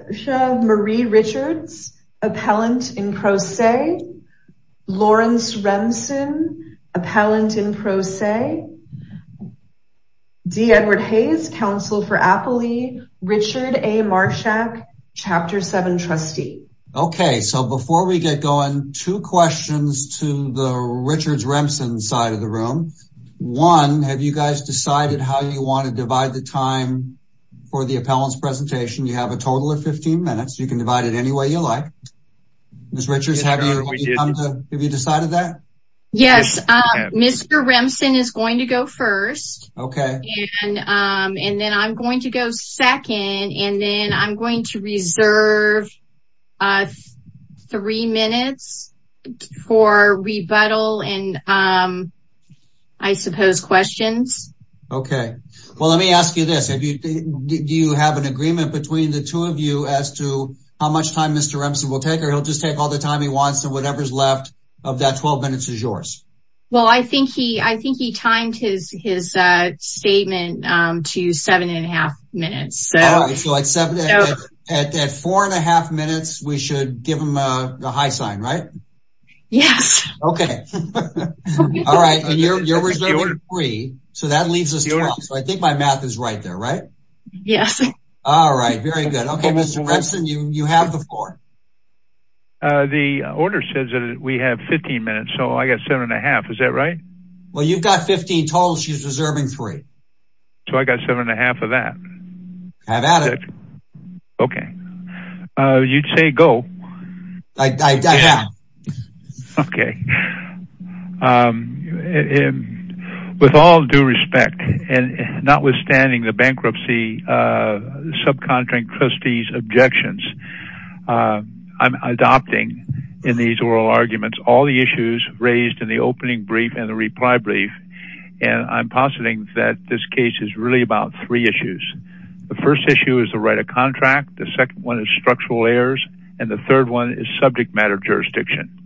Okay, so before we get going, two questions to the Richards-Remsen side of the room. One, have you guys decided how you want to divide the time for the appellant's presentation? You have a total of 15 minutes. You can divide it any way you like. Ms. Richards, have you decided that? Ms. Richards Yes, Mr. Remsen is going to go first. Mr. Remsen Okay. Ms. Richards And then I'm going to go second, and then I'm going to reserve three minutes for rebuttal and I suppose questions. Mr. Remsen Okay. Well, let me ask you this. Do you have an agreement between the two of you as to how much time Mr. Remsen will take, or he'll just take all the time he wants and whatever's left of that 12 minutes is yours? Ms. Richards Well, I think he timed his statement to seven and a half minutes. Mr. Remsen All right, so at four and a half minutes, we should give him a high sign, right? Ms. Richards Yes. Mr. Remsen Okay. All right, and you're reserving three, so that leaves us 12, so I think my math is right there, right? Ms. Richards Yes. Mr. Remsen All right, very good. Okay, Mr. Remsen, you have the floor. Mr. Remsen The order says that we have 15 minutes, so I got seven and a half. Is that right? Mr. Remsen Well, you've got 15 total. She's reserving three. Mr. Remsen So I got seven and a half of that. Mr. Remsen Have at it. Mr. Remsen Okay. You'd say go. Mr. Remsen I have. Okay. With all due respect, and notwithstanding the bankruptcy subcontract trustee's objections, I'm adopting in these oral arguments all the issues raised in the opening brief and the reply brief, and I'm positing that this case is really about three issues. The first issue is the right of contract, the second one is structural errors, and the third one is subject matter jurisdiction.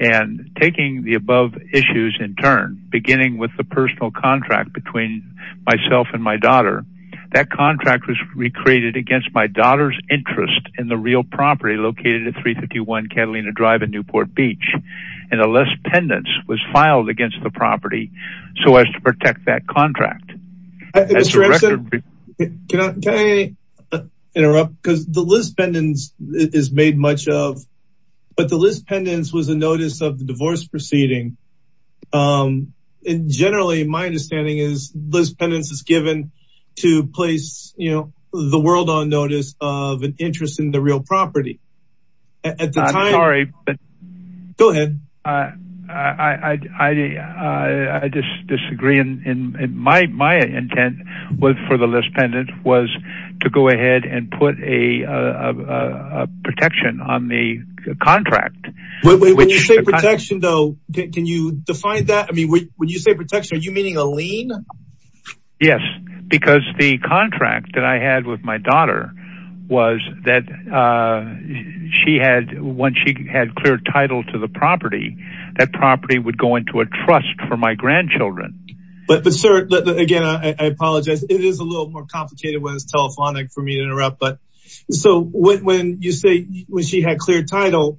And taking the above issues in turn, beginning with the personal contract between myself and my daughter, that contract was recreated against my daughter's interest in the real property located at 351 Catalina Drive in Newport Beach, and a list pendants was filed against the property so as to protect that contract. Mr. Remsen Can I interrupt? Because the list pendants is made much of, but the list pendants was a notice of the divorce proceeding. And generally, my understanding is this pendants is given to place, you know, the world on notice of an interest in the real property. Mr. Remsen I'm sorry, but Mr. Remsen Go ahead. Mr. Remsen I disagree. And my intent was for the list pendant was to go ahead and put a protection on the contract. Mr. Remsen When you say protection, though, can you define that? I mean, when you say protection, are you meaning a lien? Mr. Remsen Yes, because the contract that I had with my daughter was that she had once she had clear title to the property, that property would go into a trust for my grandchildren. Mr. Remsen But sir, again, I apologize. It is a little more complicated when it's telephonic for me to interrupt. But so when you say when she had clear title,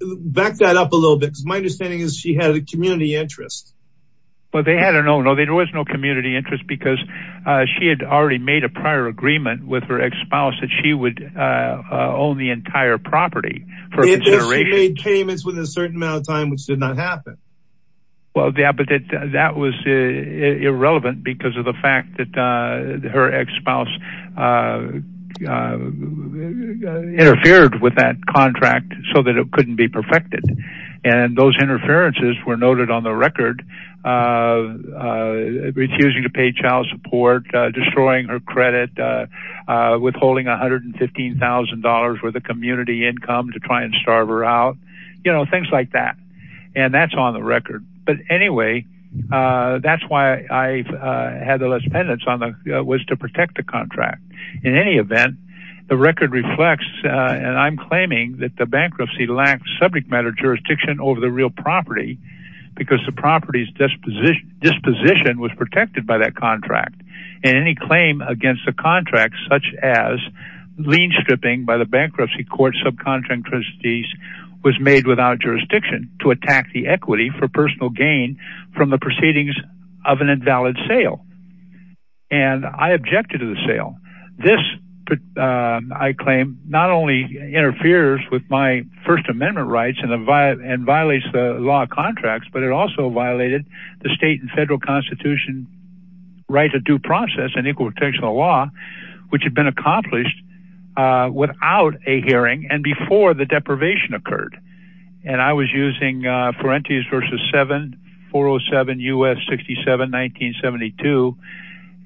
back that up a little bit, because my understanding is she had a community interest. Mr. Remsen But they had a no, no, there was no community interest because she had already made a prior agreement with her ex spouse that she would own the entire property for consideration. Mr. Remsen They made payments within a certain amount of time, which did not happen. Mr. Remsen Well, yeah, but that was irrelevant because of the fact that her ex spouse interfered with that contract so that it couldn't be perfected. And those interferences were noted on the record, refusing to pay child support, destroying her credit, withholding $115,000 worth of community income to try and starve her out, you know, things like that. And that's on the record. But anyway, that's why I had the less penance on the was to protect the contract. In any event, the record reflects, and I'm claiming that the bankruptcy lacks subject matter jurisdiction over the real property, because the property's disposition disposition was protected by that contract. And any claim against a contract such as lien stripping by the bankruptcy court subcontract was made without jurisdiction to attack the equity for personal gain from the proceedings of an invalid sale. And I objected to the sale. This, I claim not only interferes with my First Amendment rights and violates the law contracts, but it also violated the state and federal constitution right to due process and equal protection of law, which had been accomplished without a hearing and before the deprivation occurred. And I was using for entries versus 7407 us 67 1972.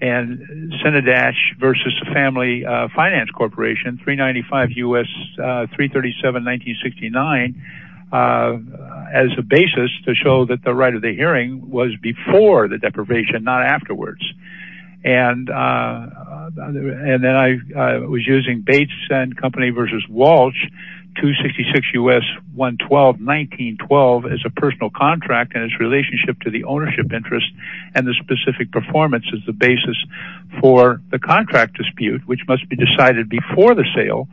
And Senate dash versus Family Finance Corporation 395 us 337 1969. As a basis to show that the right of the hearing was before the deprivation, not afterwards. And the other and then I was using Bates and company versus Walsh to 66 us 112 1912 as a personal contract and its relationship to the ownership interest. And the specific performance is the basis for the contract dispute, which must be decided before the sale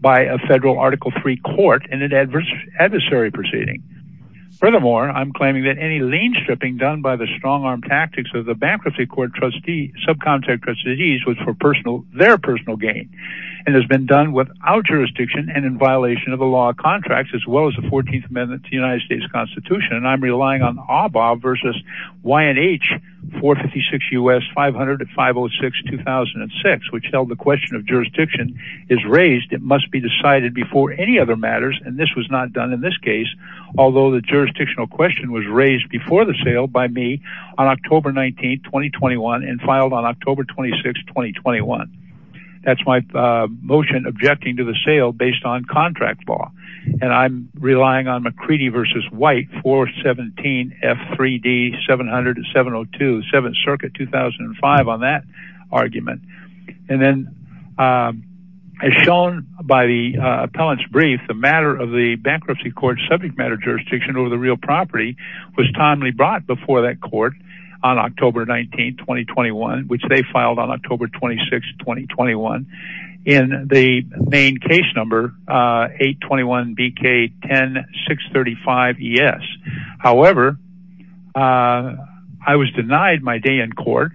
by a federal Article three court and an adverse adversary proceeding. Furthermore, I'm claiming that any lien stripping done by the strong arm tactics of the bankruptcy court trustee subcontractors disease was for personal their personal gain, and has been done without jurisdiction and in violation of the law contracts as well as the 14th Amendment to the United States Constitution. And I'm relying on our bar versus Y and H 456 us 500 to 506 2006, which held the question of jurisdiction is raised, it must be decided before any other matters. And this was not done in this case. Although the jurisdictional question was raised before the sale by me on October 19 2021, and filed on October 26 2021. That's my motion objecting to the sale based on contract law. And I'm relying on McCready versus white for 17 f 3d 700 702 seventh circuit 2005 on that argument. And then as shown by the appellant's brief, the matter of the bankruptcy court subject matter jurisdiction over the real property was timely brought before that court on October 19 2021, which they filed on October 26 2021. In the main case number 821 BK 10 635. Yes. However, I was denied my day in to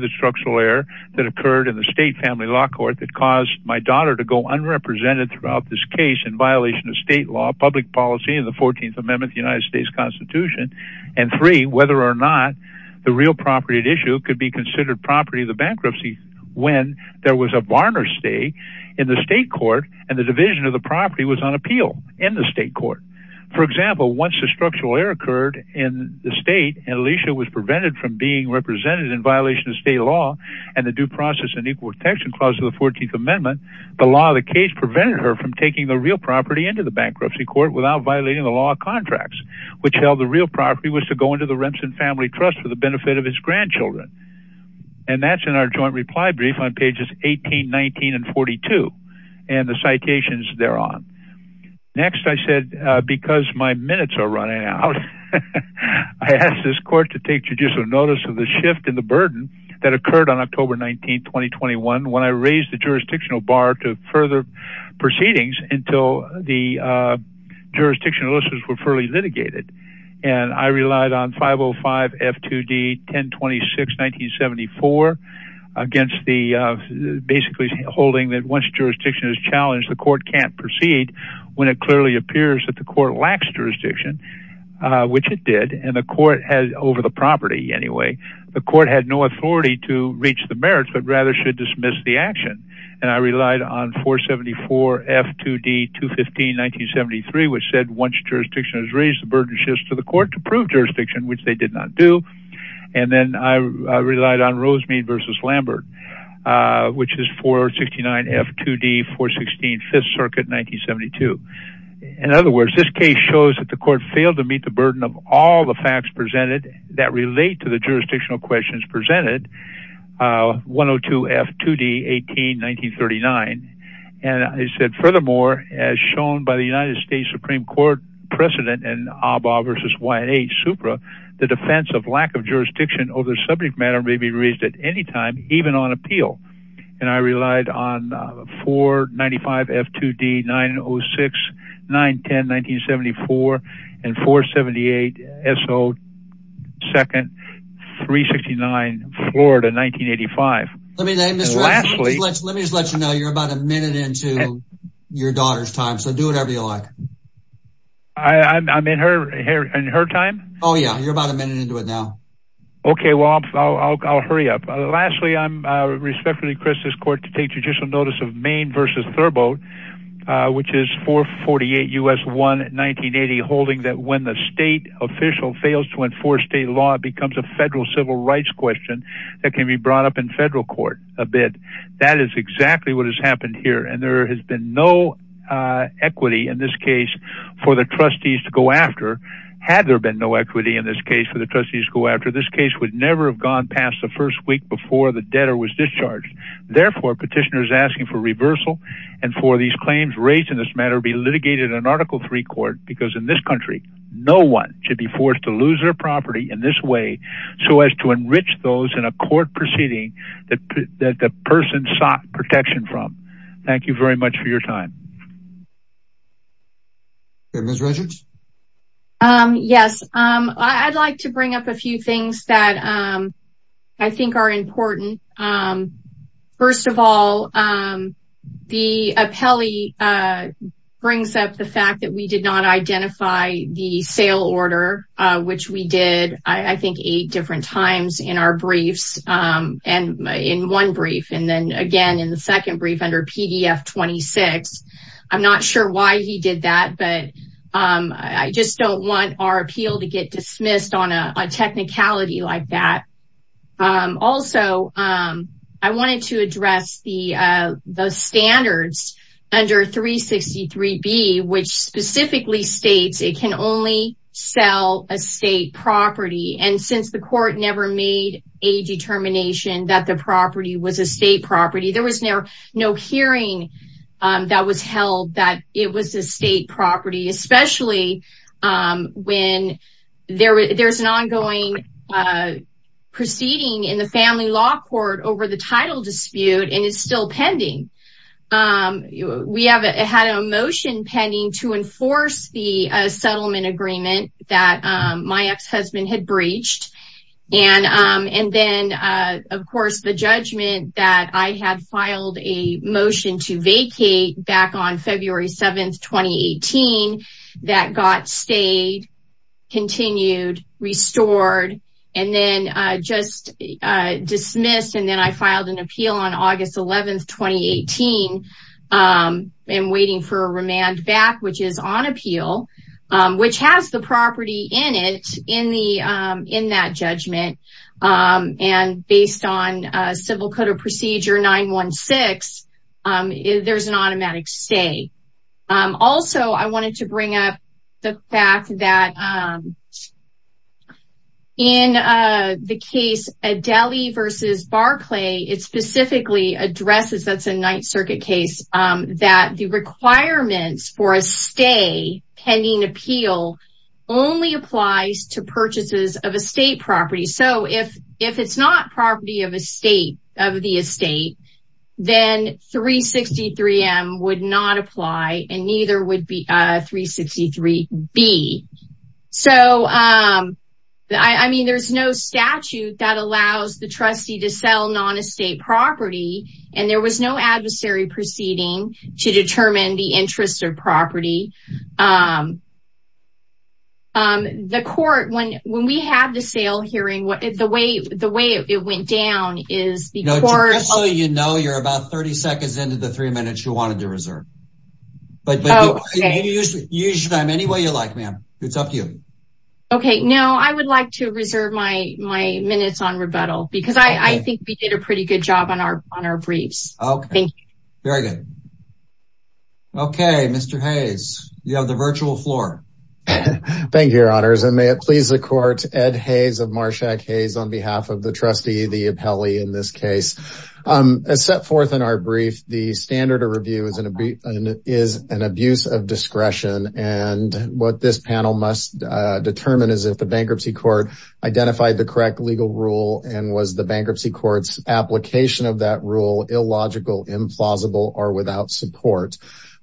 the structural error that occurred in the state family law court that caused my daughter to go unrepresented throughout this case in violation of state law, public policy in the 14th Amendment, the United States Constitution, and three, whether or not the real property at issue could be considered property, the bankruptcy, when there was a barner stay in the state court, and the division of the property was on appeal in the state court. For example, once a structural error occurred in the state and Alicia was prevented from being represented in violation of state law, and the due process and equal protection clause of the 14th Amendment, the law of the case prevented her from taking the real property into the bankruptcy court without violating the law contracts, which held the real property was to go into the Remsen family trust for the benefit of his grandchildren. And that's in our joint reply brief on pages 1819 and 42. And the citations there on. Next, I said, because my minutes are running out, I asked this court to take judicial notice of the shift in the burden that occurred on October 19, 2021, when I raised the jurisdictional bar to further proceedings until the jurisdictional listeners were fairly litigated. And I relied on 505 F2D 1026 1974 against the basically holding that once jurisdiction is challenged, the court can't proceed when it clearly appears that the court lacks jurisdiction, which it did. And the court has over the property. Anyway, the court had no authority to reach the merits, but rather should dismiss the action. And I relied on 474 F2D 215 1973, which said once jurisdiction has raised the burden shifts to the court to prove jurisdiction, which they did not do. And then I relied on Rosemead versus Lambert, which is 469 F2D 416 Fifth Circuit 1972. In other words, this case shows that the court failed to meet the burden of all the facts presented that relate to the jurisdictional questions presented 102 F2D 18 1939. And I said, furthermore, as shown by the United States Supreme Court precedent and ABBA versus why a supra, the defense of lack of jurisdiction over subject matter may be raised at any time, even on appeal. And I relied on 495 F2D 906 910 1974 and 478. So second 369 Florida 1985. Let me let me just let you know you're about a minute into your daughter's time. So do whatever you like. I'm in her hair and her time. Oh, I'll hurry up. Lastly, I respectfully request this court to take judicial notice of Maine versus Thurbo, which is 448 U.S. 1 1980, holding that when the state official fails to enforce state law, it becomes a federal civil rights question that can be brought up in federal court a bit. That is exactly what has happened here. And there has been no equity in this case for the trustees to go after. Had there been no equity in this case for the trustees go after this case would never have gone past the first week before the debtor was discharged. Therefore, petitioners asking for reversal and for these claims raised in this matter be litigated in Article three court, because in this country, no one should be forced to lose their property in this way. So as to enrich those in a court proceeding that that the person sought protection from. Thank you very much for your time. Yes, I'd like to bring up a few things that I think are important. First of all, the appellee brings up the fact that we did not identify the sale order, which we did, I think, eight different times in our briefs and in one brief. And then again, in the second brief under PDF 26. I'm not sure why he did that. But I just don't want our appeal to get dismissed on a technicality like that. Also, I wanted to address the standards under 363 B, which specifically states it can only sell a state property. And since the court never made a determination that the property was a state property, there was never no hearing that was held that it was a state property, especially when there's an ongoing proceeding in the family law court over the title dispute, and it's still pending. We have had a motion pending to enforce the settlement agreement that my ex-husband had breached. And then, of course, the judgment that I had filed a motion to vacate back on February 7, 2018, that got stayed, continued, restored, and then just dismissed. And then I filed an appeal on August 11, 2018, and waiting for a remand back, which is on appeal, which has the property in it in that judgment. And based on Civil Code of Procedure 916, there's an automatic stay. Also, I wanted to bring up the fact that in the case Adeli v. Barclay, it specifically addresses, that's a Ninth Circuit case, that the requirements for a stay pending appeal only applies to purchases of a state property. So, if it's not property of the estate, then 363M would not apply, and neither would 363B. So, I mean, there's no statute that allows the trustee to sell non-estate property, and there was no adversary proceeding to determine the interest of property. The court, when we had the sale hearing, the way it went down is the court... Just so you know, you're about 30 seconds into the three minutes you wanted to reserve. But you can use them any way you like, ma'am. It's up to you. Okay. No, I would like to reserve my minutes on rebuttal, because I think we did a pretty good job on our briefs. Okay. Thank you. Very good. Okay, Mr. Hayes, you have the virtual floor. Thank you, your honors, and may it please the court, Ed Hayes of Marshack Hayes on behalf of the trustee, the appellee in this case. As set forth in our brief, the standard of review is an abuse of discretion, and what this panel must determine is if the bankruptcy court identified the correct legal rule and was the bankruptcy court's application of that rule illogical, implausible, or without support.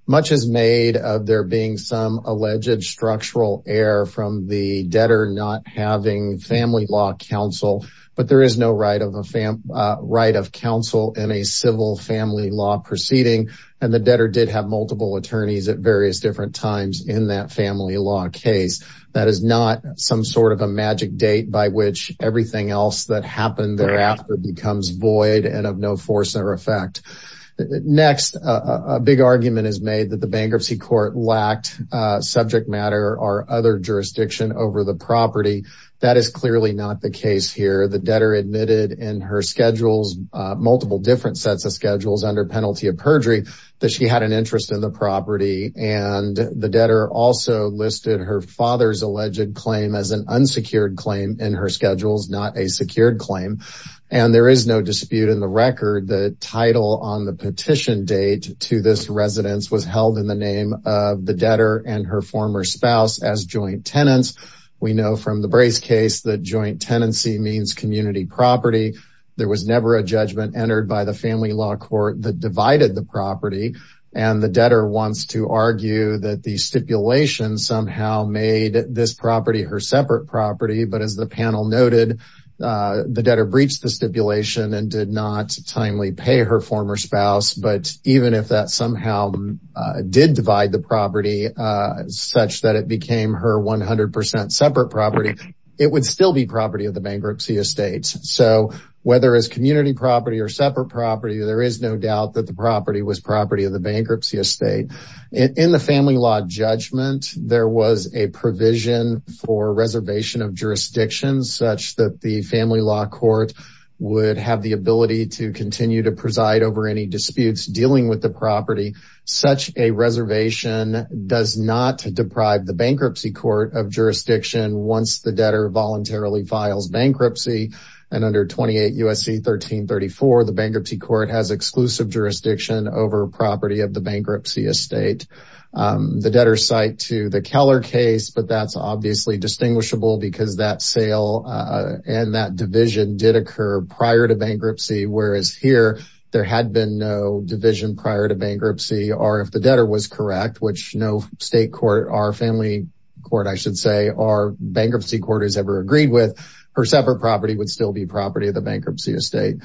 Much is made of there being some alleged structural error from the debtor not having family law counsel, but there is no right of counsel in a civil family law proceeding, and the debtor did have multiple attorneys at various different times in that family law case. That is not some sort of a magic date by which everything else that happened thereafter becomes void and of no force or effect. Next, a big argument is made that the bankruptcy court lacked subject matter or other jurisdiction over the property. That is clearly not the case here. The debtor admitted in her schedules, multiple different sets of schedules under penalty of perjury, that she had an interest in the property, and the debtor also listed her father's alleged claim as an unsecured claim in her schedules, not a secured claim, and there is no dispute in the record the title on the petition date to this residence was held in the name of the debtor and her former spouse as joint tenants. We know from the Brace case that joint tenancy means property. There was never a judgment entered by the family law court that divided the property, and the debtor wants to argue that the stipulation somehow made this property her separate property, but as the panel noted, the debtor breached the stipulation and did not timely pay her former spouse, but even if that somehow did divide the property such that it became her 100% separate property, it would still be property of the bankruptcy estate. So whether it's community property or separate property, there is no doubt that the property was property of the bankruptcy estate. In the family law judgment, there was a provision for reservation of jurisdictions such that the family law court would have the ability to continue to preside over any disputes dealing with the property. Such a reservation does not deprive the bankruptcy court of jurisdiction once the debtor voluntarily files bankruptcy, and under 28 U.S.C. 1334, the bankruptcy court has exclusive jurisdiction over property of the bankruptcy estate. The debtor's cite to the Keller case, but that's obviously distinguishable because that sale and that division did occur prior to bankruptcy, or if the debtor was correct, which no state court or family court, I should say, or bankruptcy court has ever agreed with, her separate property would still be property of the bankruptcy estate.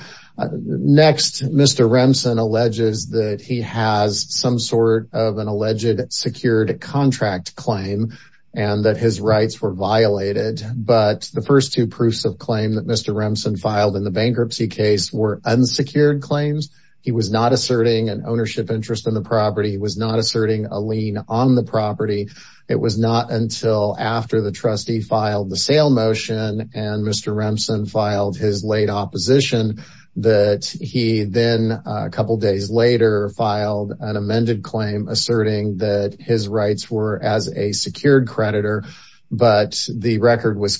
Next, Mr. Remsen alleges that he has some sort of an alleged secured contract claim and that his rights were violated, but the first two proofs of claim that Mr. Remsen filed in the bankruptcy case were unsecured claims. He was not asserting an ownership interest in the property. He was not asserting a lien on the property. It was not until after the trustee filed the sale motion and Mr. Remsen filed his late opposition that he then a couple days later filed an amended claim asserting that his rights were as a secured creditor, but the record was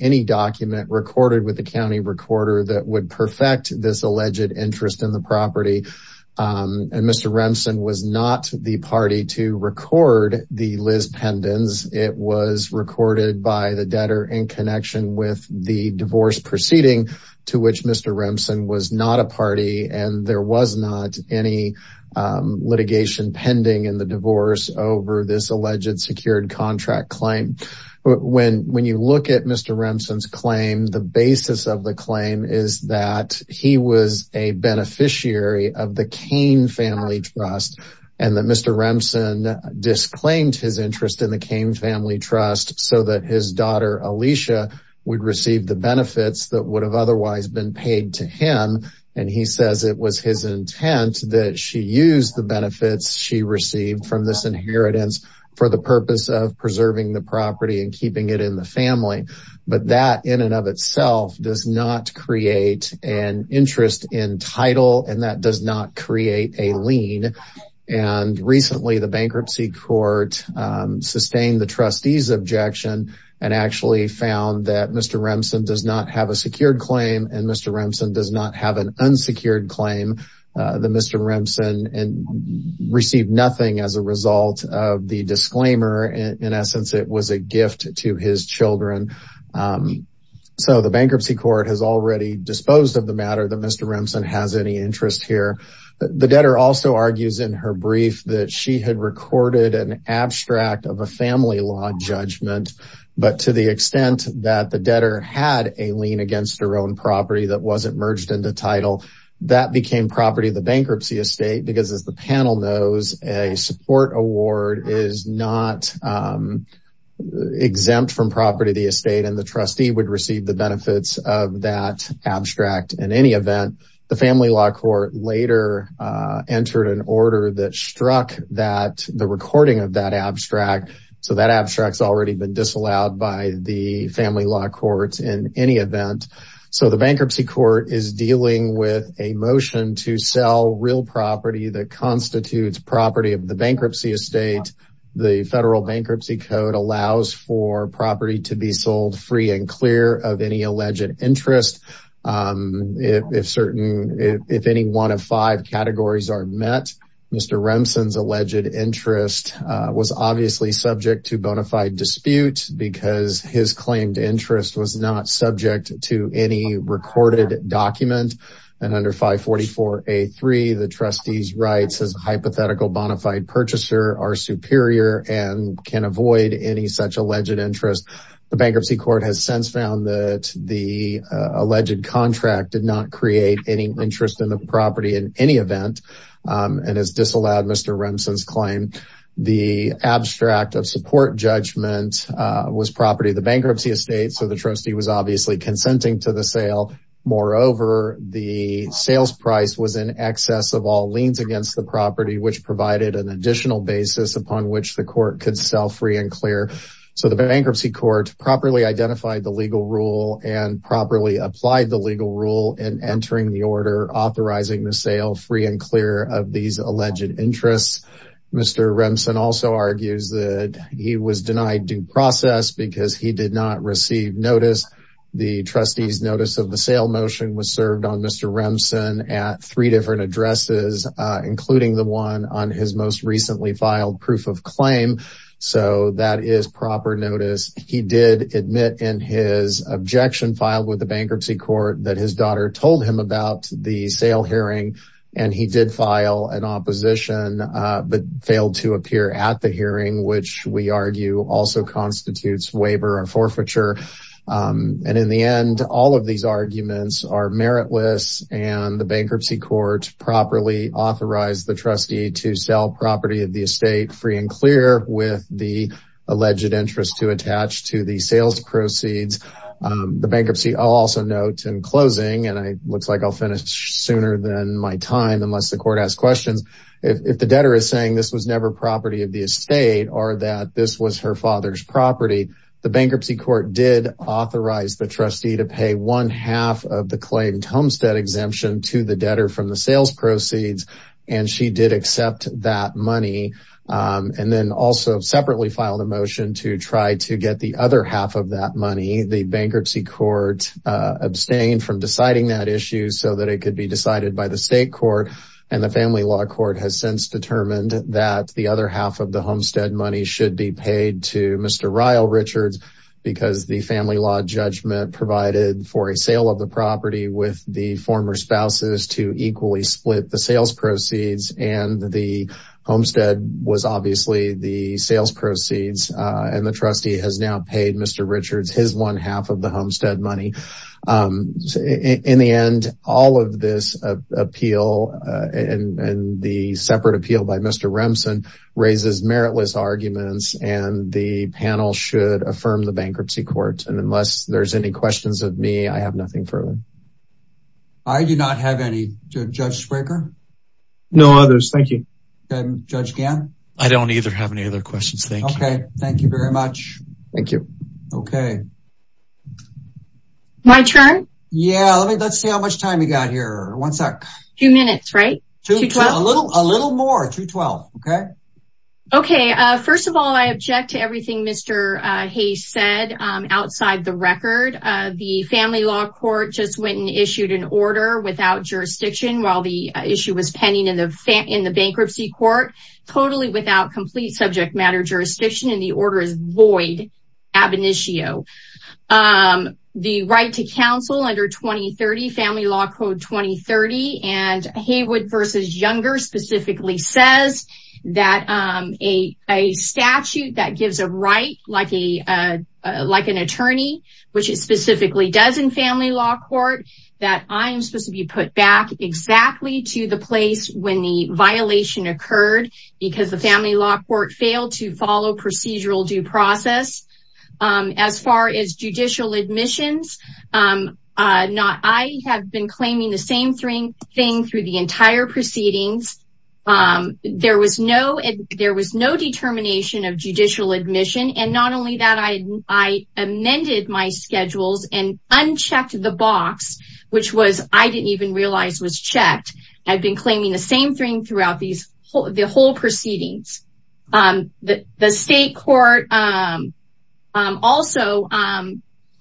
any document recorded with the county recorder that would perfect this alleged interest in the property. And Mr. Remsen was not the party to record the Liz pendants. It was recorded by the debtor in connection with the divorce proceeding to which Mr. Remsen was not a party and there was not any litigation pending in the divorce over this alleged secured contract claim. When you look at Mr. Remsen's claim, the basis of the claim is that he was a beneficiary of the Kane family trust and that Mr. Remsen disclaimed his interest in the Kane family trust so that his daughter Alicia would receive the benefits that would have otherwise been paid to him. And he says it was his intent that she used the benefits she received from this inheritance for the purpose of preserving the property and keeping it in the family. But that in and of itself does not create an interest in title and that does not create a lien. And recently the bankruptcy court sustained the trustee's objection and actually found that Mr. Remsen does not have a secured claim and Mr. Remsen does not have an unsecured claim that Mr. Remsen received nothing as a result of the disclaimer in essence it was a gift to his children. So the bankruptcy court has already disposed of the matter that Mr. Remsen has any interest here. The debtor also argues in her brief that she had recorded an abstract of a family law judgment but to the extent that the debtor had a lien against her own property that wasn't merged into title that became property of the bankruptcy estate because as the panel knows a support award is not exempt from property of the estate and the trustee would receive the benefits of that abstract in any event. The family law court later entered an order that struck that the recording of that abstract so that abstracts already been disallowed by the family law courts in any event. So the bankruptcy court is dealing with a motion to sell real property that constitutes property of the bankruptcy estate. The federal bankruptcy code allows for property to be sold free and clear of any alleged interest. If any one of five categories are met Mr. Remsen's alleged interest was obviously subject to bona fide dispute because his claimed interest was not subject to any recorded document and under 544 a3 the trustee's rights as a hypothetical bona fide purchaser are superior and can avoid any such alleged interest. The bankruptcy court has since found that the alleged contract did not create any interest in the property in any event and has disallowed Mr. Remsen's claim. The abstract of support judgment was property of the bankruptcy estate so the trustee was obviously consenting to the sale. Moreover the sales price was in excess of all liens against the property which provided an additional basis upon which the court could sell free and clear. So the bankruptcy court properly identified the legal rule and properly applied the legal rule in entering the order authorizing the sale free and clear of these alleged interests. Mr. Remsen also argues that he was denied due process because he did not receive notice. The trustee's notice of the sale motion was served on Mr. Remsen at three different addresses including the one on his most recently filed proof of claim so that is proper notice. He did admit in his objection filed with the bankruptcy court that his daughter told him about the sale hearing and he did file an opposition but failed to appear at the hearing which we argue also constitutes waiver or forfeiture and in the end all of these arguments are meritless and the bankruptcy court properly authorized the trustee to sell property of the estate free and clear with the alleged interest to attach to the sales proceeds. The bankruptcy also notes in closing and it looks like I'll finish sooner than my time unless the court asks questions if the debtor is saying this was never property of the estate or that this was her father's property the bankruptcy court did authorize the trustee to pay one half of the claimed homestead exemption to the debtor from the sales proceeds and she did accept that money and then also separately filed a motion to try to get the other half of that money. The bankruptcy court abstained from deciding that issue so that it could be decided by the state court and the family law court has since determined that the other half of the homestead money should be paid to Mr. Ryle Richards because the family law judgment provided for a sale of the property with the former spouses to equally split the sales proceeds and the homestead was obviously the sales proceeds and the trustee has now paid Mr. Richards his one half of the homestead money. In the end all of this appeal and the separate appeal by Mr. Remsen raises meritless arguments and the panel should affirm the bankruptcy court and unless there's any questions of me I have nothing further. I do not have any. Judge Spraker? No others, thank you. Judge Gann? I don't either have any other questions, thank you. Okay, thank you very much. Thank you. Okay. My turn? Yeah, let's see how much time we got here. One sec. Two minutes, right? A little more, two twelve, okay? Okay, first of all I object to everything Mr. Hayes said outside the record. The family law court just went and issued an order without jurisdiction while the issue was pending in the bankruptcy court totally without complete subject matter jurisdiction and the order is void ab initio. The right to counsel under 2030 family law code 2030 and Haywood versus Younger says that a statute that gives a right like an attorney which it specifically does in family law court that I am supposed to be put back exactly to the place when the violation occurred because the family law court failed to follow procedural due process as far as judicial proceedings. There was no determination of judicial admission and not only that I amended my schedules and unchecked the box which was I didn't even realize was checked. I've been claiming the same thing throughout the whole proceedings. The state court also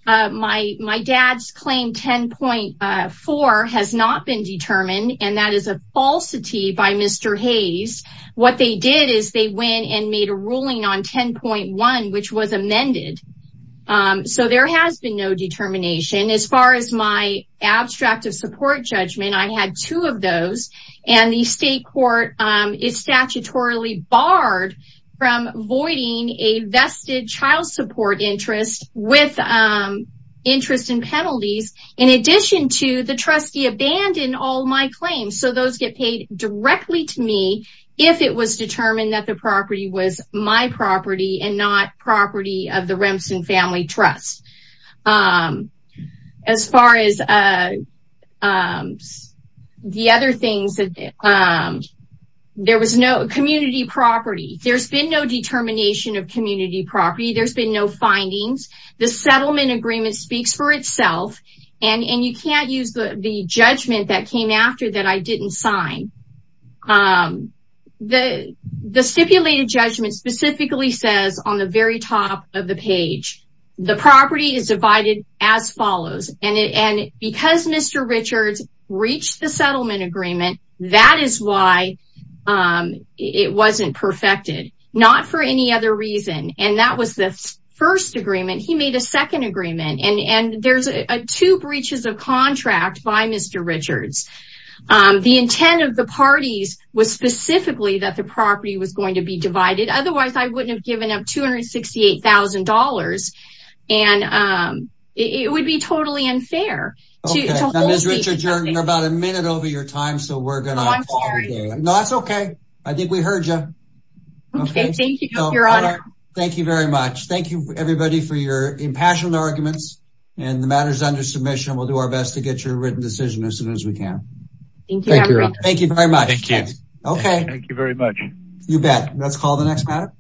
my dad's claim 10.4 has not been determined and that is a falsity by Mr. Hayes. What they did is they went and made a ruling on 10.1 which was amended. So there has been no determination as far as my abstract of support judgment. I had two of those and the state court is statutorily barred from voiding a vested child support interest with interest in penalties in addition to the trustee abandon all my claims. So those get paid directly to me if it was determined that the property was my property and not property of the Remson family trust. As far as the other things that there was no property. There's been no determination of community property. There's been no findings. The settlement agreement speaks for itself and you can't use the judgment that came after that I didn't sign. The stipulated judgment specifically says on the very top of the page the property is as follows and because Mr. Richards reached the settlement agreement that is why it wasn't perfected. Not for any other reason and that was the first agreement. He made a second agreement and there's a two breaches of contract by Mr. Richards. The intent of the parties was specifically that the property was going to be divided otherwise I wouldn't have given up $268,000 and it would be totally unfair. Okay, Ms. Richards, you're about a minute over your time so we're going to. I'm sorry. No, that's okay. I think we heard you. Okay, thank you, your honor. Thank you very much. Thank you everybody for your impassioned arguments and the matter is under submission. We'll do our best to get your written decision as soon as we can. Thank you. Thank you very much. Thank you. Okay. Thank you very much. You bet. Let's call the next matter.